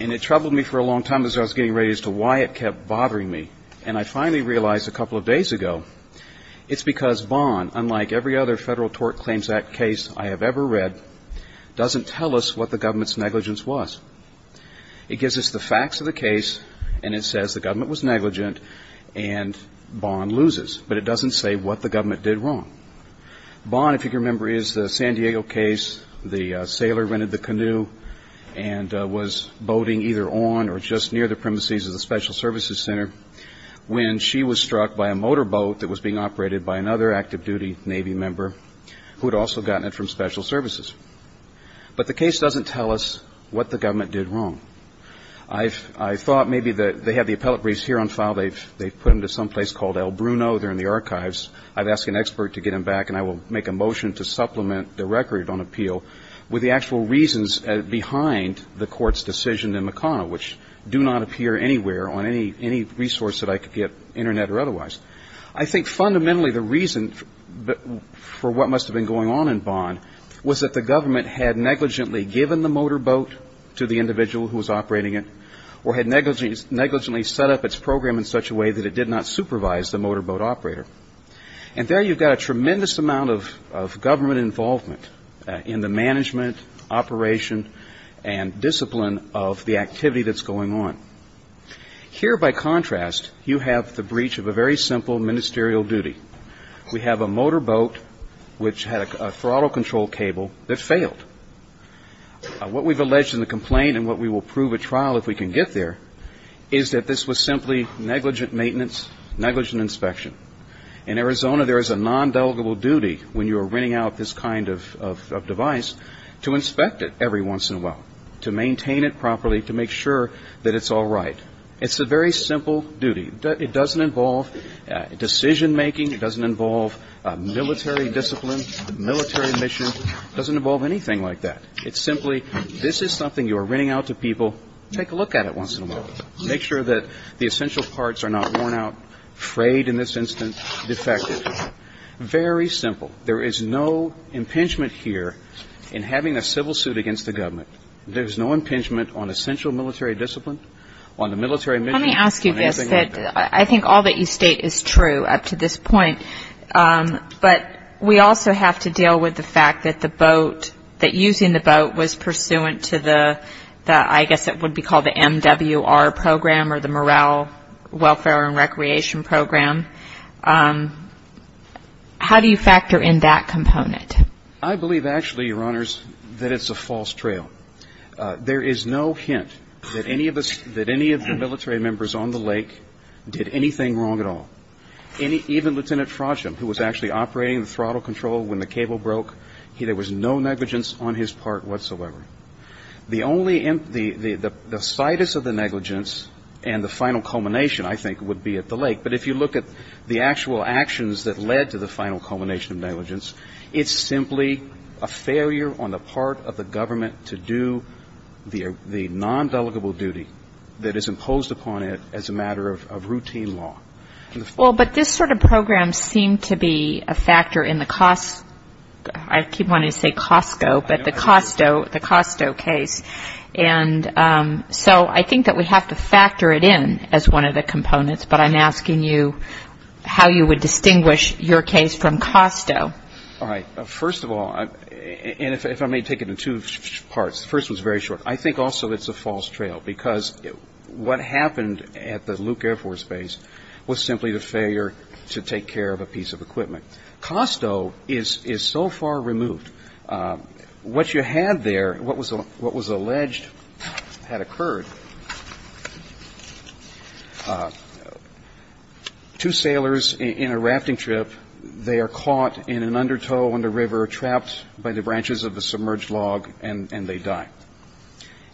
and it troubled me for a long time as I was getting ready as to why it kept bothering me. And I finally realized a couple of days ago it's because Bond, unlike every other Federal Tort Claims Act case I have ever read, doesn't tell us what the government's negligence was. It gives us the facts of the case and it says the government was negligent and Bond loses. But it doesn't say what the government did wrong. Bond, if you can remember, is the San Diego case. The sailor rented the canoe and was boating either on or just near the premises of the Special Services Center when she was struck by a motorboat that was being operated by another active duty Navy member who had also gotten it from Special Services. But the case doesn't tell us what the government did wrong. I thought maybe they had the appellate briefs here on file. They've put them to someplace called El Bruno. They're in the archives. I've asked an expert to get them back and I will make a motion to supplement the record on appeal with the actual reasons behind the court's decision in McConnell, which do not appear anywhere on any resource that I could get, internet or otherwise. I think fundamentally the reason for what must have been going on in Bond was that the government had negligently given the motorboat to the individual who was operating it or had negligently set up its program in such a way that it did not supervise the motorboat operator. And there you've got a tremendous amount of government involvement in the management, operation, and discipline of the activity that's going on. Here, by contrast, you have the breach of a very simple ministerial duty. We have a motorboat which had a throttle control cable that failed. What we've alleged in the complaint and what we will prove at trial if we can get there is that this was simply negligent maintenance, negligent inspection. In Arizona, there is a non-delegable duty when you are renting out this kind of device to inspect it every once in a while, to maintain it properly, to make sure that it's all right. It's a very simple duty. It doesn't involve decision-making. It doesn't involve military discipline, military mission. It doesn't involve anything like that. It's simply this is something you are renting out to people. Take a look at it once in a while. Make sure that the essential parts are not worn out, frayed in this instance, defective. Very simple. There is no impingement here in having a civil suit against the government. There is no impingement on essential military discipline, on the military mission, on anything like that. Let me ask you this. I think all that you state is true up to this point, but we also have to deal with the fact that the boat, that using the boat was pursuant to the, I believe, actually, Your Honors, that it's a false trail. There is no hint that any of the military members on the lake did anything wrong at all. Even Lieutenant Frosham, who was actually operating the throttle control when the cable broke, there was no negligence on his part whatsoever. The only, the situs of the negligence and the final culmination, I think, would be at the lake. But if you look at the actual actions that led to the final culmination of negligence, it's simply a failure on the part of the government to do the non-delegable duty that is imposed upon it as a matter of routine law. Well, but this sort of program seemed to be a factor in the cost, I keep wanting to say Costco, but the Costco case. And so I think that we have to factor it in as one of the components, but I'm asking you how you would distinguish your case from Costco. All right. First of all, and if I may take it in two parts, the first one is very short. I think also it's a false trail, because what happened at the Luke Air Force Base was simply the failure to take care of a piece of equipment. Costco is so far removed. What you had there, what was alleged had occurred, two sailors in a rafting trip, they are caught in an undertow on the river, trapped by the branches of a submerged log, and they die.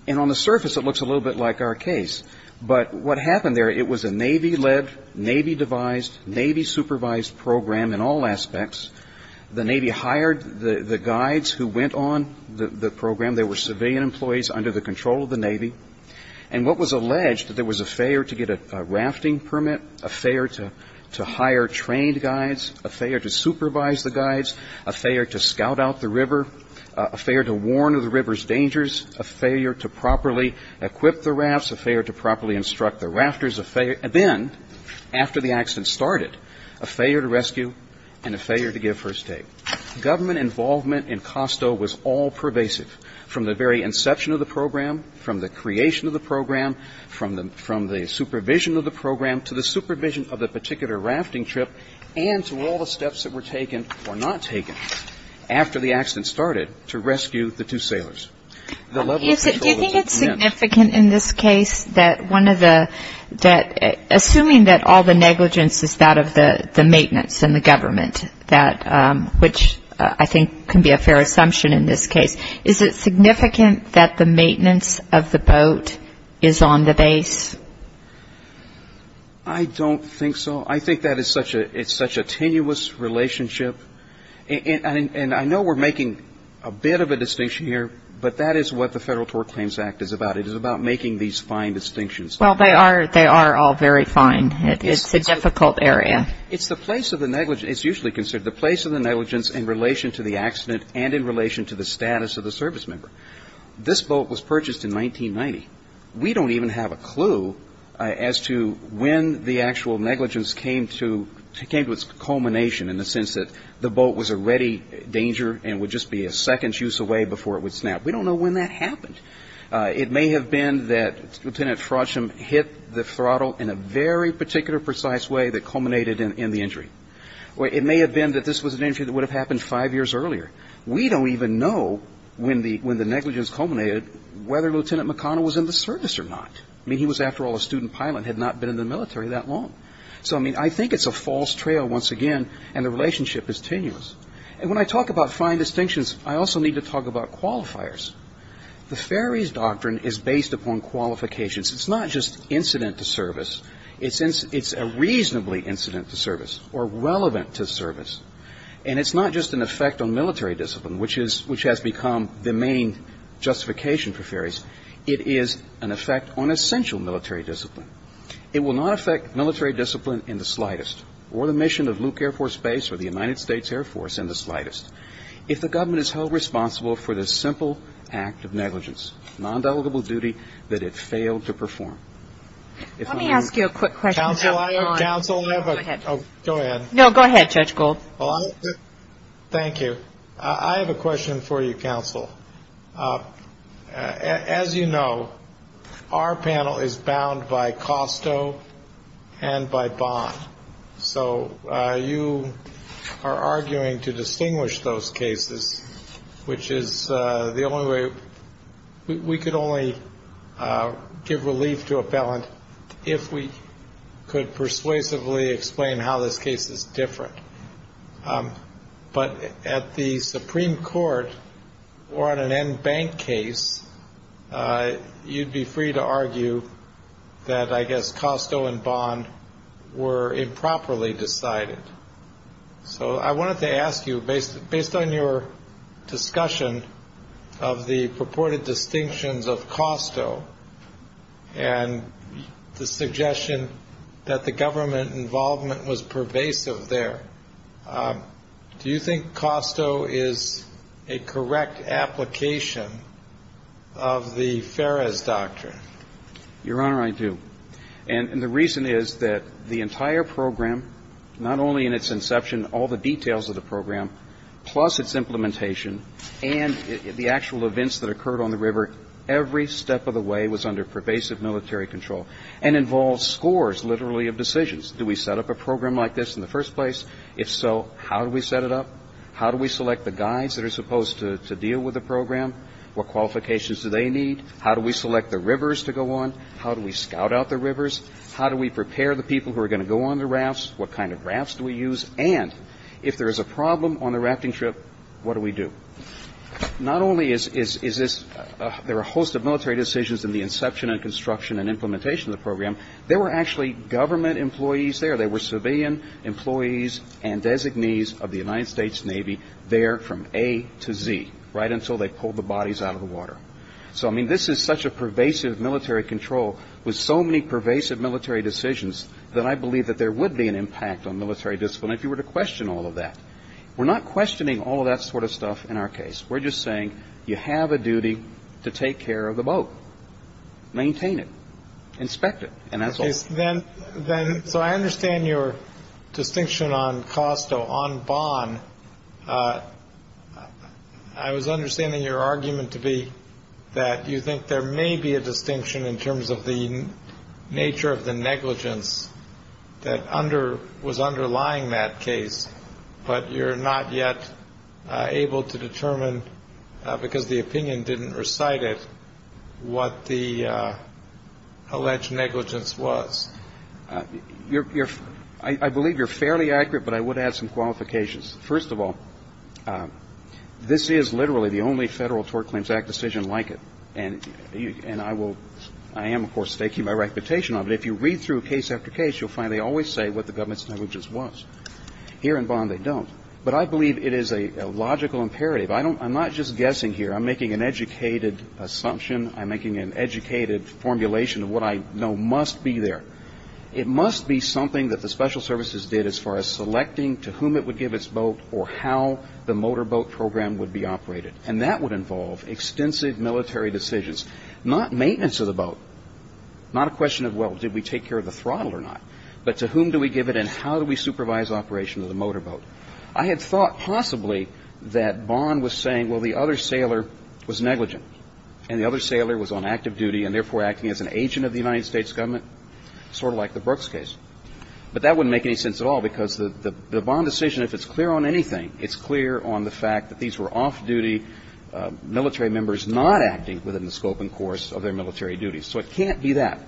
And on the surface it looks a little bit like our case, but what happened there, it was a Navy-led, Navy-devised, Navy-supervised program in all aspects. The Navy hired the guides who went on the program. They were civilian employees under the control of the Navy. And what was alleged, that there was a failure to get a rafting permit, a failure to hire trained guides, a failure to supervise the guides, a failure to scout out the river, a failure to warn of the river's dangers, a failure to properly equip the rafts, a failure to properly instruct the rafters, and then, after the accident started, a failure to rescue and a failure to give first aid. Government involvement in Costco was all pervasive, from the very inception of the program, from the creation of the program, from the supervision of the program, to the supervision of the particular rafting trip, and to all the steps that were taken or not taken after the accident started to rescue the two sailors. The level of control was immense. Do you think it's significant in this case that one of the, assuming that all the negligence is that of the maintenance and the government, which I think can be a fair assumption in this case, is it significant that the maintenance of the boat is on the base? I don't think so. I think that it's such a tenuous relationship, and I know we're making a bit of a distinction here, but that is what the Federal Tort Claims Act is about. It is about making these fine distinctions. Well, they are all very fine. It's a difficult area. It's the place of the negligence. It's usually considered the place of the negligence in relation to the accident and in relation to the status of the service member. This boat was purchased in 1990. We don't even have a clue as to when the actual negligence came to its culmination, in the sense that the boat was already in danger and would just be a second's use away before it would snap. We don't know when that happened. It may have been that Lieutenant Frosham hit the throttle in a very particular precise way that culminated in the injury. It may have been that this was an injury that would have happened five years earlier. We don't even know when the negligence culminated whether Lieutenant McConnell was in the service or not. I mean, he was, after all, a student pilot and had not been in the military that long. So, I mean, I think it's a false trail once again, and the relationship is tenuous. And when I talk about fine distinctions, I also need to talk about qualifiers. The Ferries Doctrine is based upon qualifications. It's not just incident to service. It's a reasonably incident to service or relevant to service. And it's not just an effect on military discipline, which has become the main justification for ferries. It is an effect on essential military discipline. It will not affect military discipline in the slightest or the mission of Luke Air Force Base or the United States Air Force in the slightest. If the government is held responsible for this simple act of negligence, non-delegable duty, that it failed to perform. Let me ask you a quick question. Thank you. I have a question for you, counsel. As you know, our panel is bound by costo and by bond. So you are arguing to distinguish those cases, which is the only way. We could only give relief to a felon if we could persuasively explain how this case is different. But at the Supreme Court or on an end bank case, you'd be free to argue that, I guess, costo and bond were improperly decided. So I wanted to ask you, based on your discussion of the purported decision, the distinctions of costo and the suggestion that the government involvement was pervasive there, do you think costo is a correct application of the Ferris Doctrine? Your Honor, I do. And the reason is that the entire program, not only in its inception, all the details of the program, plus its implementation and the actual events that occurred on the river, every step of the way was under pervasive military control and involved scores, literally, of decisions. Do we set up a program like this in the first place? If so, how do we set it up? How do we select the guides that are supposed to deal with the program? What qualifications do they need? How do we select the rivers to go on? How do we scout out the rivers? How do we prepare the people who are going to go on the rafts? What kind of rafts do we use? And if there is a problem on the rafting trip, what do we do? Not only is this – there are a host of military decisions in the inception and construction and implementation of the program. There were actually government employees there. There were civilian employees and designees of the United States Navy there from A to Z, right until they pulled the bodies out of the water. So, I mean, this is such a pervasive military control with so many pervasive military decisions that I believe that there would be an impact on military discipline if you were to question all of that. We're not questioning all of that sort of stuff in our case. We're just saying you have a duty to take care of the boat. Maintain it. Inspect it. And that's all. So I understand your distinction on costo, on bond. I was understanding your argument to be that you think there may be a distinction in terms of the nature of the negligence that was underlying that case, but you're not yet able to determine because the opinion didn't recite it what the alleged negligence was. I believe you're fairly accurate, but I would add some qualifications. First of all, this is literally the only Federal Tort Claims Act decision like it, and I am, of course, staking my reputation on it. If you read through case after case, you'll find they always say what the government's negligence was. Here in bond they don't. But I believe it is a logical imperative. I'm not just guessing here. I'm making an educated assumption. I'm making an educated formulation of what I know must be there. It must be something that the special services did as far as selecting to whom it would give its boat or how the motorboat program would be operated, and that would involve extensive military decisions, not maintenance of the boat, not a question of, well, did we take care of the throttle or not, but to whom do we give it and how do we supervise operation of the motorboat. I had thought possibly that bond was saying, well, the other sailor was negligent and the other sailor was on active duty and, therefore, acting as an agent of the United States government, sort of like the Brooks case. But that wouldn't make any sense at all because the bond decision, if it's clear on anything, it's clear on the fact that these were off-duty military members not acting within the scope and course of their military duties. So it can't be that.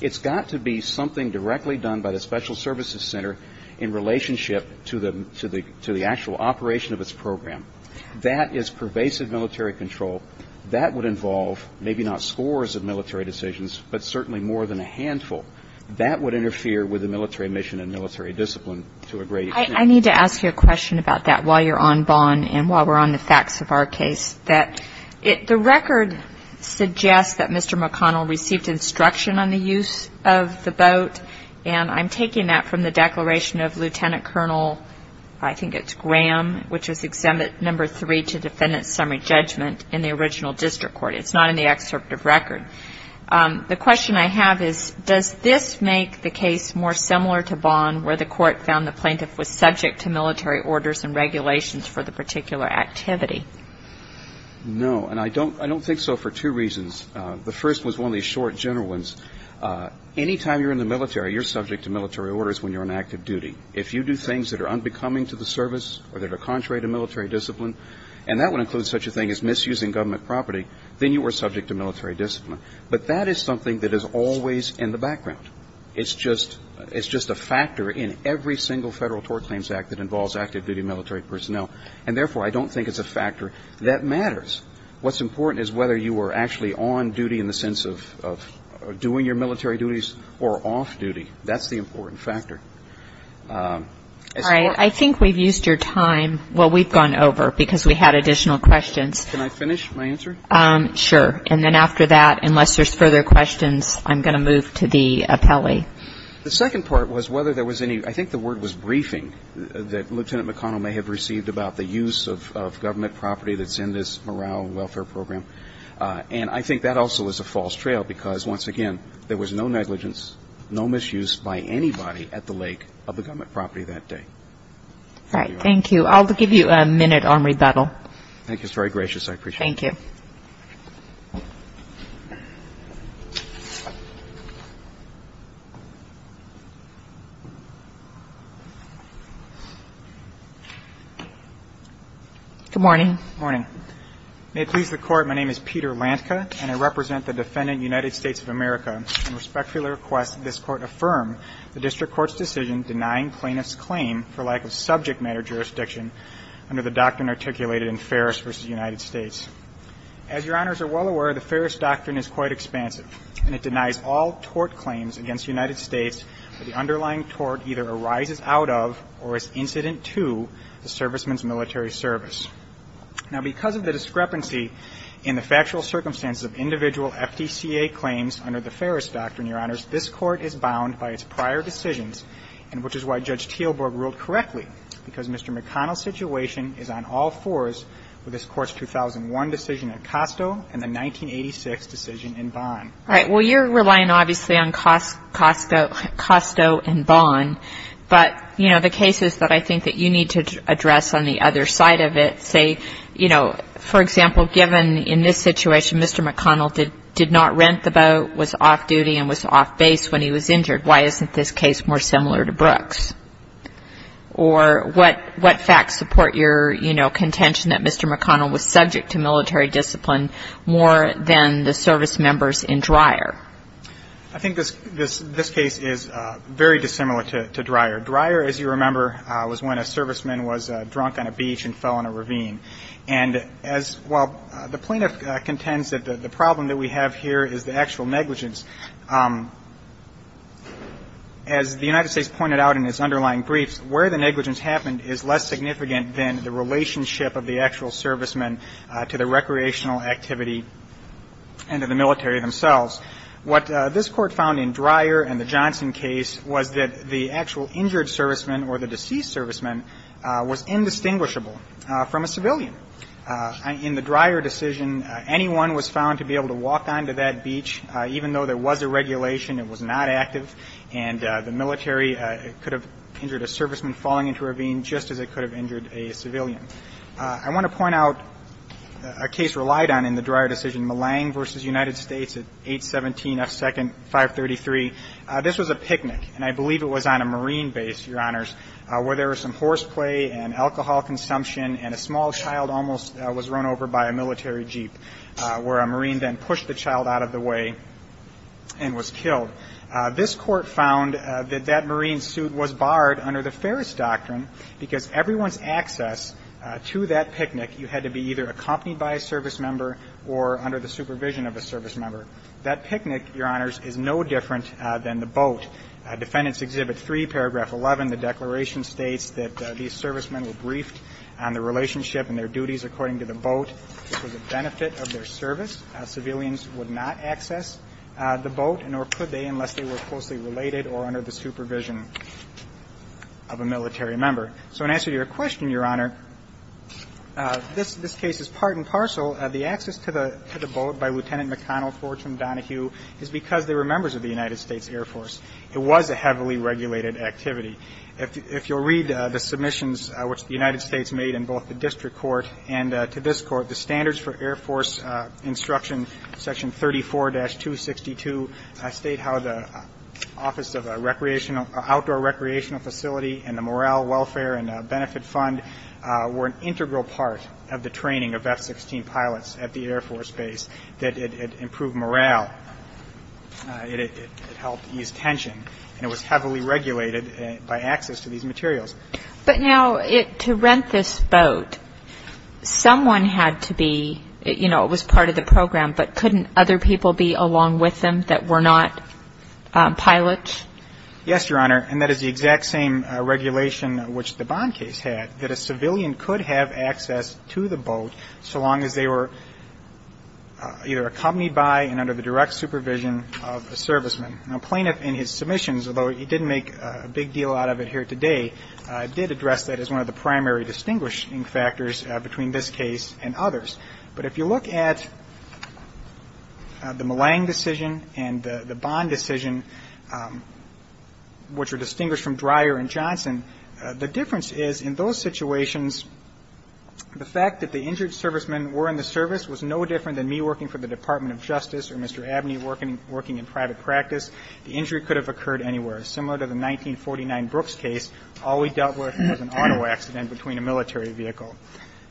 It's got to be something directly done by the special services center in relationship to the actual operation of its program. That is pervasive military control. That would involve maybe not scores of military decisions, but certainly more than a handful. That would interfere with the military mission and military discipline to a great extent. I need to ask you a question about that while you're on bond and while we're on the facts of our case, that the record suggests that Mr. McConnell received instruction on the use of the boat, and I'm taking that from the declaration of Lieutenant Colonel, I think it's Graham, which was Exhibit No. 3 to Defendant's Summary Judgment in the original district court. It's not in the excerpt of record. The question I have is, does this make the case more similar to bond, where the court found the plaintiff was subject to military orders and regulations for the particular activity? No, and I don't think so for two reasons. The first was one of these short, general ones. Any time you're in the military, you're subject to military orders when you're on active duty. If you do things that are unbecoming to the service or that are contrary to military discipline, and that would include such a thing as misusing government property, then you are subject to military discipline. But that is something that is always in the background. It's just a factor in every single Federal Tort Claims Act that involves active duty military personnel, and therefore I don't think it's a factor that matters. What's important is whether you are actually on duty in the sense of doing your military duties or off duty. That's the important factor. All right. I think we've used your time. Well, we've gone over because we had additional questions. Can I finish my answer? Sure. And then after that, unless there's further questions, I'm going to move to the appellee. The second part was whether there was any ‑‑ I think the word was briefing, that Lieutenant McConnell may have received about the use of government property that's in this morale and welfare program. And I think that also is a false trail because, once again, there was no negligence, no misuse by anybody at the lake of the government property that day. All right. Thank you. I'll give you a minute on rebuttal. Thank you. It's very gracious. I appreciate it. Thank you. Good morning. Good morning. May it please the Court, my name is Peter Lantka, and I represent the defendant, United States of America, and respectfully request that this Court affirm the district court's decision denying plaintiff's claim for lack of subject matter jurisdiction under the doctrine articulated in Ferris v. United States. As Your Honors are well aware, the Ferris doctrine is quite expansive, and it denies all tort claims against the United States that the underlying tort either arises out of or is incident to the serviceman's military service. Now, because of the discrepancy in the factual circumstances of individual FDCA claims under the Ferris doctrine, Your Honors, this Court is bound by its prior decisions, and which is why Judge Teelborg ruled correctly, because Mr. McConnell's situation is on all fours with this Court's 2001 decision in Costo and the 1986 decision in Bonn. All right. Well, you're relying, obviously, on Costo and Bonn, but, you know, the cases that I think that you need to address on the other side of it, say, you know, for example, given in this situation Mr. McConnell did not rent the boat, was off duty and was off base when he was injured, why isn't this case more similar to Brooks? Or what facts support your, you know, contention that Mr. McConnell was subject to military discipline more than the service members in Dreyer? I think this case is very dissimilar to Dreyer. Dreyer, as you remember, was when a serviceman was drunk on a beach and fell in a ravine. And as well, the plaintiff contends that the problem that we have here is the actual negligence. As the United States pointed out in its underlying briefs, where the negligence happened is less significant than the relationship of the actual serviceman to the recreational activity and to the military themselves. What this Court found in Dreyer and the Johnson case was that the actual injured serviceman or the deceased serviceman was indistinguishable from a civilian. In the Dreyer decision, anyone was found to be able to walk onto that beach, even though there was a regulation, it was not active, and the military could have injured a serviceman falling into a ravine just as it could have injured a civilian. I want to point out a case relied on in the Dreyer decision, Millang v. United States at 817 F. 2nd, 533. This was a picnic, and I believe it was on a Marine base, Your Honors, where there was some horseplay and alcohol consumption and a small child almost was run over by a military jeep, where a Marine then pushed the child out of the way and was killed. This Court found that that Marine suit was barred under the Ferris doctrine because everyone's access to that picnic, you had to be either accompanied by a servicemember or under the supervision of a servicemember. That picnic, Your Honors, is no different than the boat. Defendants' Exhibit 3, paragraph 11, the declaration states that these servicemen were briefed on the relationship and their duties according to the boat. This was a benefit of their service. Civilians would not access the boat, nor could they unless they were closely related or under the supervision of a military member. So in answer to your question, Your Honor, this case is part and parcel. The access to the boat by Lieutenant McConnell Forge from Donahue is because they were members of the United States Air Force. It was a heavily regulated activity. If you'll read the submissions which the United States made in both the District Court and to this Court, the Standards for Air Force Instruction, Section 34-262, state how the Office of Outdoor Recreational Facility and the Morale, Welfare, and Benefit Fund were an integral part of the training of F-16 pilots at the Air Force Base. It improved morale. It helped ease tension. And it was heavily regulated by access to these materials. But now to rent this boat, someone had to be, you know, it was part of the program, but couldn't other people be along with them that were not pilots? Yes, Your Honor, and that is the exact same regulation which the Bond case had, that a civilian could have access to the boat so long as they were either accompanied by and under the direct supervision of a serviceman. Now, Plaintiff in his submissions, although he didn't make a big deal out of it here today, did address that as one of the primary distinguishing factors between this case and others. But if you look at the Malang decision and the Bond decision, which were distinguished from Dreyer and Johnson, the difference is in those situations, the fact that the injured servicemen were in the service was no different than me working for the Department of Justice or Mr. Abney working in private practice. The injury could have occurred anywhere. Similar to the 1949 Brooks case, all we dealt with was an auto accident between a military vehicle.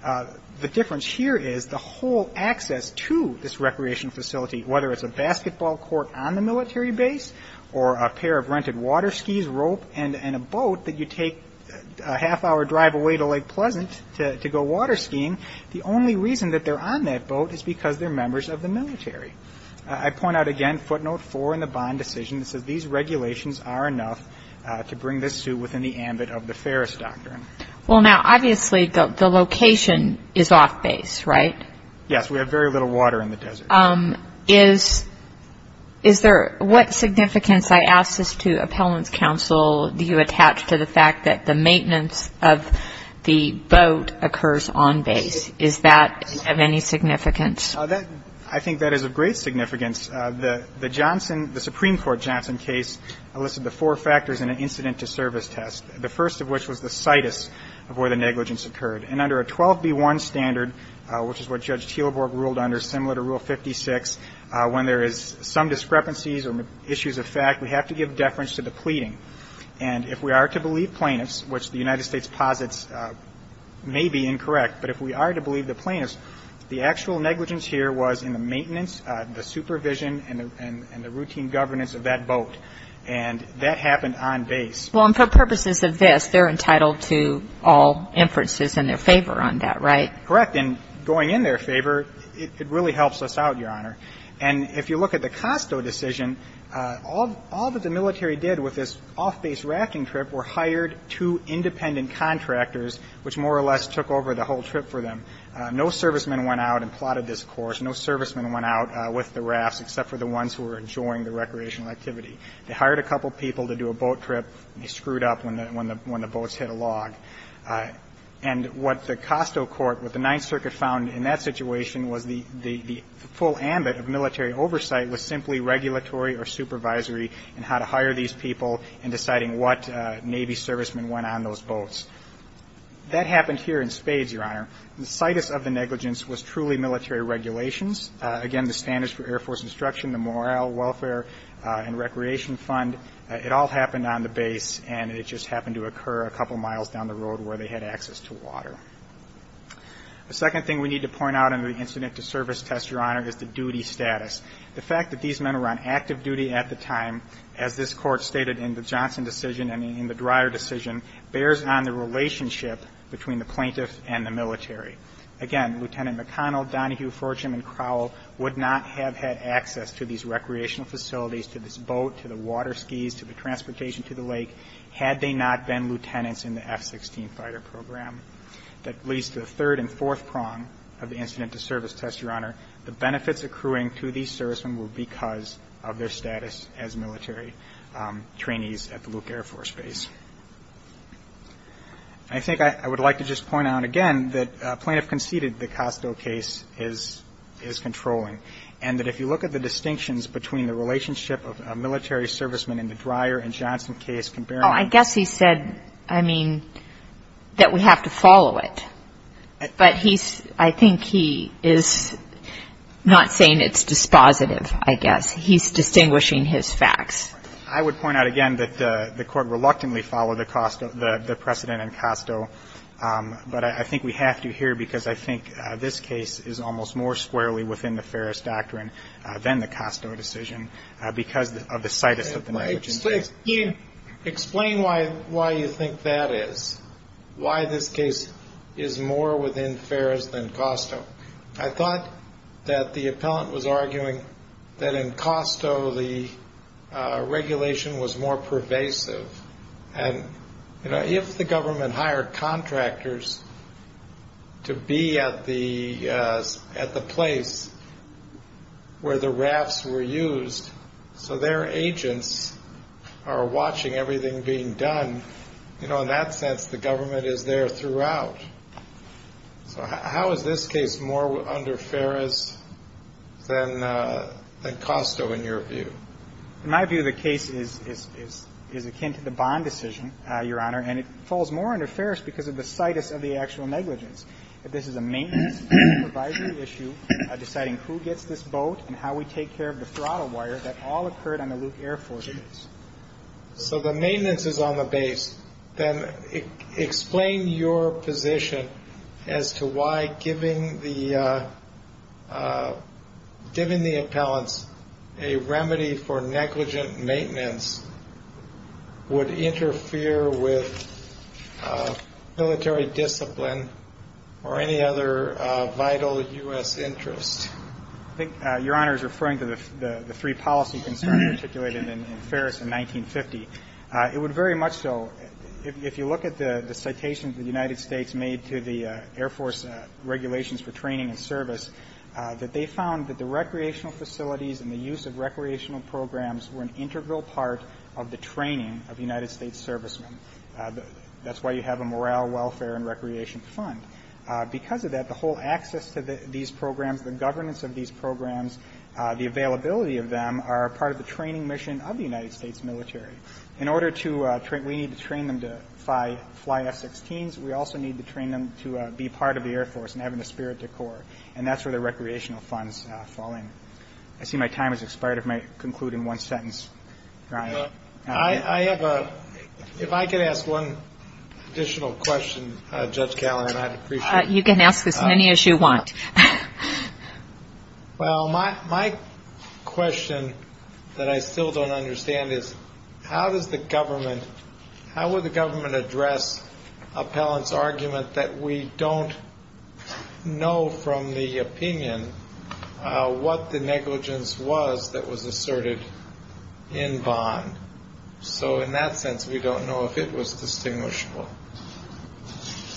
The difference here is the whole access to this recreation facility, whether it's a basketball court on the military base or a pair of rented water skis, rope, and a boat that you take a half-hour drive away to Lake Pleasant to go water skiing, the only reason that they're on that boat is because they're members of the military. I point out again, footnote four in the Bond decision, it says these regulations are enough to bring this suit within the ambit of the Ferris Doctrine. Well, now, obviously, the location is off base, right? Yes. We have very little water in the desert. Is there what significance, I ask this to appellants counsel, do you attach to the fact that the maintenance of the boat occurs on base? Is that of any significance? I think that is of great significance. The Johnson, the Supreme Court Johnson case listed the four factors in an incident to service test, the first of which was the situs of where the negligence occurred. And under a 12B1 standard, which is what Judge Teelborg ruled under, similar to Rule 56, when there is some discrepancies or issues of fact, we have to give deference to the pleading. And if we are to believe plaintiffs, which the United States posits may be incorrect, but if we are to believe the plaintiffs, the actual negligence here was in the maintenance, the supervision, and the routine governance of that boat. And that happened on base. Well, and for purposes of this, they're entitled to all inferences in their favor on that, right? Correct. And going in their favor, it really helps us out, Your Honor. And if you look at the Costo decision, all that the military did with this off-base rafting trip were hired two independent contractors, which more or less took over the whole trip for them. No servicemen went out and plotted this course. No servicemen went out with the rafts except for the ones who were enjoying the recreational activity. They hired a couple people to do a boat trip. They screwed up when the boats hit a log. And what the Costo court, what the Ninth Circuit found in that situation was the full ambit of military oversight was simply regulatory or supervisory in how to hire these people in deciding what Navy servicemen went on those boats. That happened here in spades, Your Honor. The situs of the negligence was truly military regulations. Again, the standards for Air Force instruction, the morale, welfare, and recreation fund, it all happened on the base, and it just happened to occur a couple miles down the road where they had access to water. The second thing we need to point out in the incident to service test, Your Honor, is the duty status. The fact that these men were on active duty at the time, as this Court stated in the Johnson decision and in the Dreyer decision, bears on the relationship between the plaintiff and the military. Again, Lieutenant McConnell, Donahue, Fortune, and Crowell would not have had access to these recreational facilities, to this boat, to the water skis, to the transportation to the lake, had they not been lieutenants in the F-16 fighter program. That leads to the third and fourth prong of the incident to service test, Your Honor. The benefits accruing to these servicemen were because of their status as military trainees at the Luke Air Force Base. And I think I would like to just point out again that plaintiff conceded the Costo case is controlling and that if you look at the distinctions between the relationship of a military serviceman in the Dreyer and Johnson case comparing them. Oh, I guess he said, I mean, that we have to follow it. But he's – I think he is not saying it's dispositive, I guess. He's distinguishing his facts. I would point out again that the Court reluctantly followed the precedent in Costo. But I think we have to here because I think this case is almost more squarely within the Ferris doctrine than the Costo decision because of the situs of the negligent case. Explain why you think that is, why this case is more within Ferris than Costo. I thought that the appellant was arguing that in Costo the regulation was more pervasive. And, you know, if the government hired contractors to be at the place where the rafts were used so their agents are watching everything being done, you know, in that sense the government is there throughout. So how is this case more under Ferris than Costo in your view? In my view the case is akin to the Bond decision, Your Honor, and it falls more under Ferris because of the situs of the actual negligence. This is a maintenance advisory issue deciding who gets this boat and how we take care of the throttle wire that all occurred on the Luke Air Force base. So the maintenance is on the base. Then explain your position as to why giving the appellants a remedy for negligent maintenance would interfere with military discipline or any other vital U.S. interest. I think Your Honor is referring to the three policy concerns articulated in Ferris in 1950. It would very much so if you look at the citations the United States made to the Air Force regulations for training and service, that they found that the recreational facilities and the use of recreational programs were an integral part of the training of United States servicemen. That's why you have a morale, welfare, and recreation fund. Because of that, the whole access to these programs, the governance of these programs, the availability of them are part of the training mission of the United States military. In order to train them, we need to train them to fly F-16s. We also need to train them to be part of the Air Force and have an esprit de corps. And that's where the recreational funds fall in. I see my time has expired. I might conclude in one sentence. If I could ask one additional question, Judge Callahan, I'd appreciate it. You can ask as many as you want. Well, my question that I still don't understand is how does the government, how would the government address appellant's argument that we don't know from the opinion what the negligence was that was asserted in Vaughn? So in that sense, we don't know if it was distinguishable.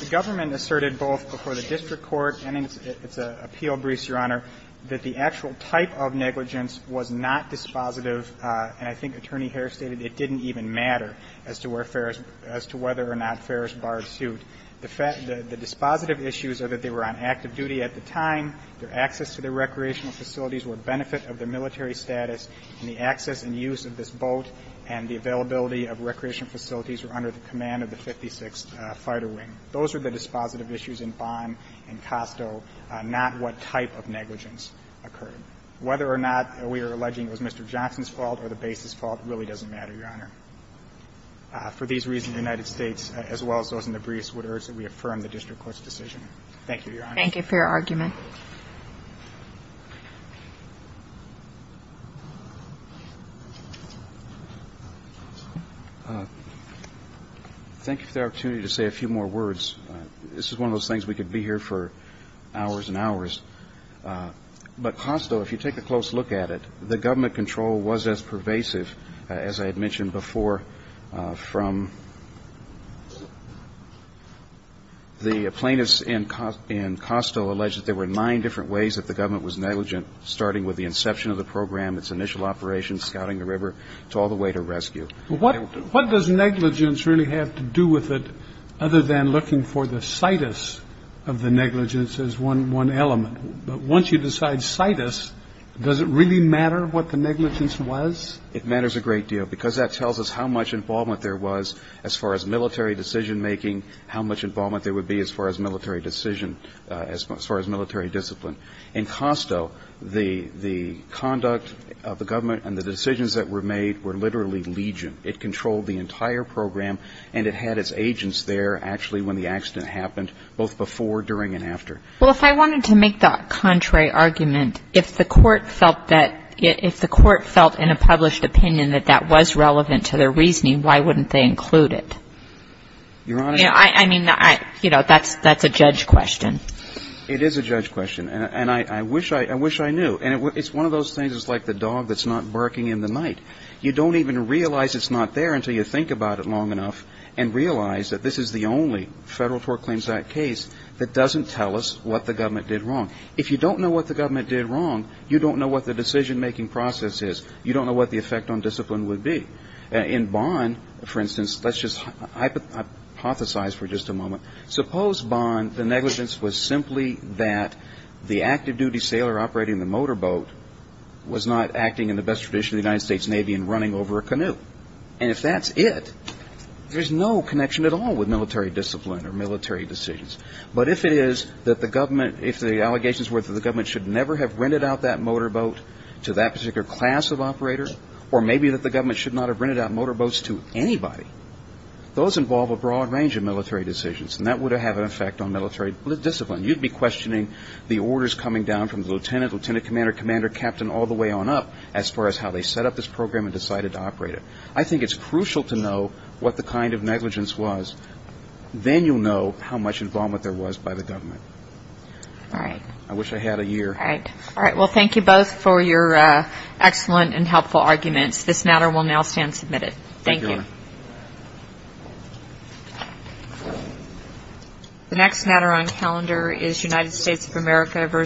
The government asserted both before the district court and in its appeal briefs, Your Honor, that the actual type of negligence was not dispositive. And I think Attorney Harris stated it didn't even matter as to whether or not Ferris barred suit. The dispositive issues are that they were on active duty at the time, their access to the recreational facilities were a benefit of their military status, and the access and use of this boat and the availability of recreational facilities were under the command of the 56th Fighter Wing. Those are the dispositive issues in Vaughn and Costco, not what type of negligence occurred. Whether or not we are alleging it was Mr. Johnson's fault or the base's fault really doesn't matter, Your Honor. For these reasons, the United States, as well as those in the briefs, would urge that we affirm the district court's decision. Thank you, Your Honor. Thank you for your argument. Thank you for the opportunity to say a few more words. This is one of those things we could be here for hours and hours. But Costco, if you take a close look at it, the government control was as pervasive, as I had mentioned before, from the plaintiffs in Costco alleged that there were nine different ways that the government was negligent, starting with the inception of the program, its initial operations, scouting the river, to all the way to rescue. What does negligence really have to do with it other than looking for the situs of the negligence as one element? Once you decide situs, does it really matter what the negligence was? It matters a great deal because that tells us how much involvement there was as far as military decision-making, how much involvement there would be as far as military decision, as far as military discipline. In Costco, the conduct of the government and the decisions that were made were literally legion. It controlled the entire program, and it had its agents there actually when the accident happened, both before, during, and after. Well, if I wanted to make that contrary argument, if the court felt that, if the court felt in a published opinion that that was relevant to their reasoning, why wouldn't they include it? Your Honor. I mean, you know, that's a judge question. It is a judge question. And I wish I knew. And it's one of those things that's like the dog that's not barking in the night. You don't even realize it's not there until you think about it long enough and realize that this is the only Federal Tort Claims Act case that doesn't tell us what the government did wrong. If you don't know what the government did wrong, you don't know what the decision-making process is. You don't know what the effect on discipline would be. In Bond, for instance, let's just hypothesize for just a moment. Suppose, Bond, the negligence was simply that the active-duty sailor operating the motorboat was not acting in the best tradition of the United States Navy and running over a canoe. And if that's it, there's no connection at all with military discipline or military decisions. But if it is that the government, if the allegations were that the government should never have rented out that motorboat to that particular class of operator, or maybe that the government should not have rented out motorboats to anybody, those involve a broad range of military decisions. And that would have an effect on military discipline. You'd be questioning the orders coming down from the lieutenant, lieutenant commander, commander captain, all the way on up as far as how they set up this program and decided to operate it. I think it's crucial to know what the kind of negligence was. Then you'll know how much involvement there was by the government. All right. I wish I had a year. All right. Well, thank you both for your excellent and helpful arguments. This matter will now stand submitted. Thank you. Thank you. The next matter on calendar is United States of America v.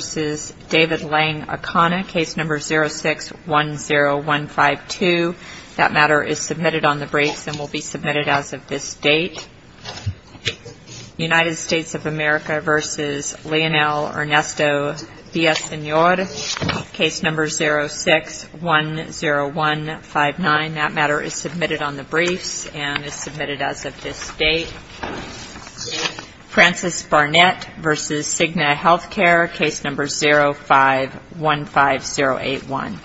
David Lang Acana, case number 06-10152. That matter is submitted on the breaks and will be submitted as of this date. United States of America v. Leonel Ernesto Villasenor, case number 06-10159. And that matter is submitted on the briefs and is submitted as of this date. Frances Barnett v. Cigna Healthcare, case number 05-15081.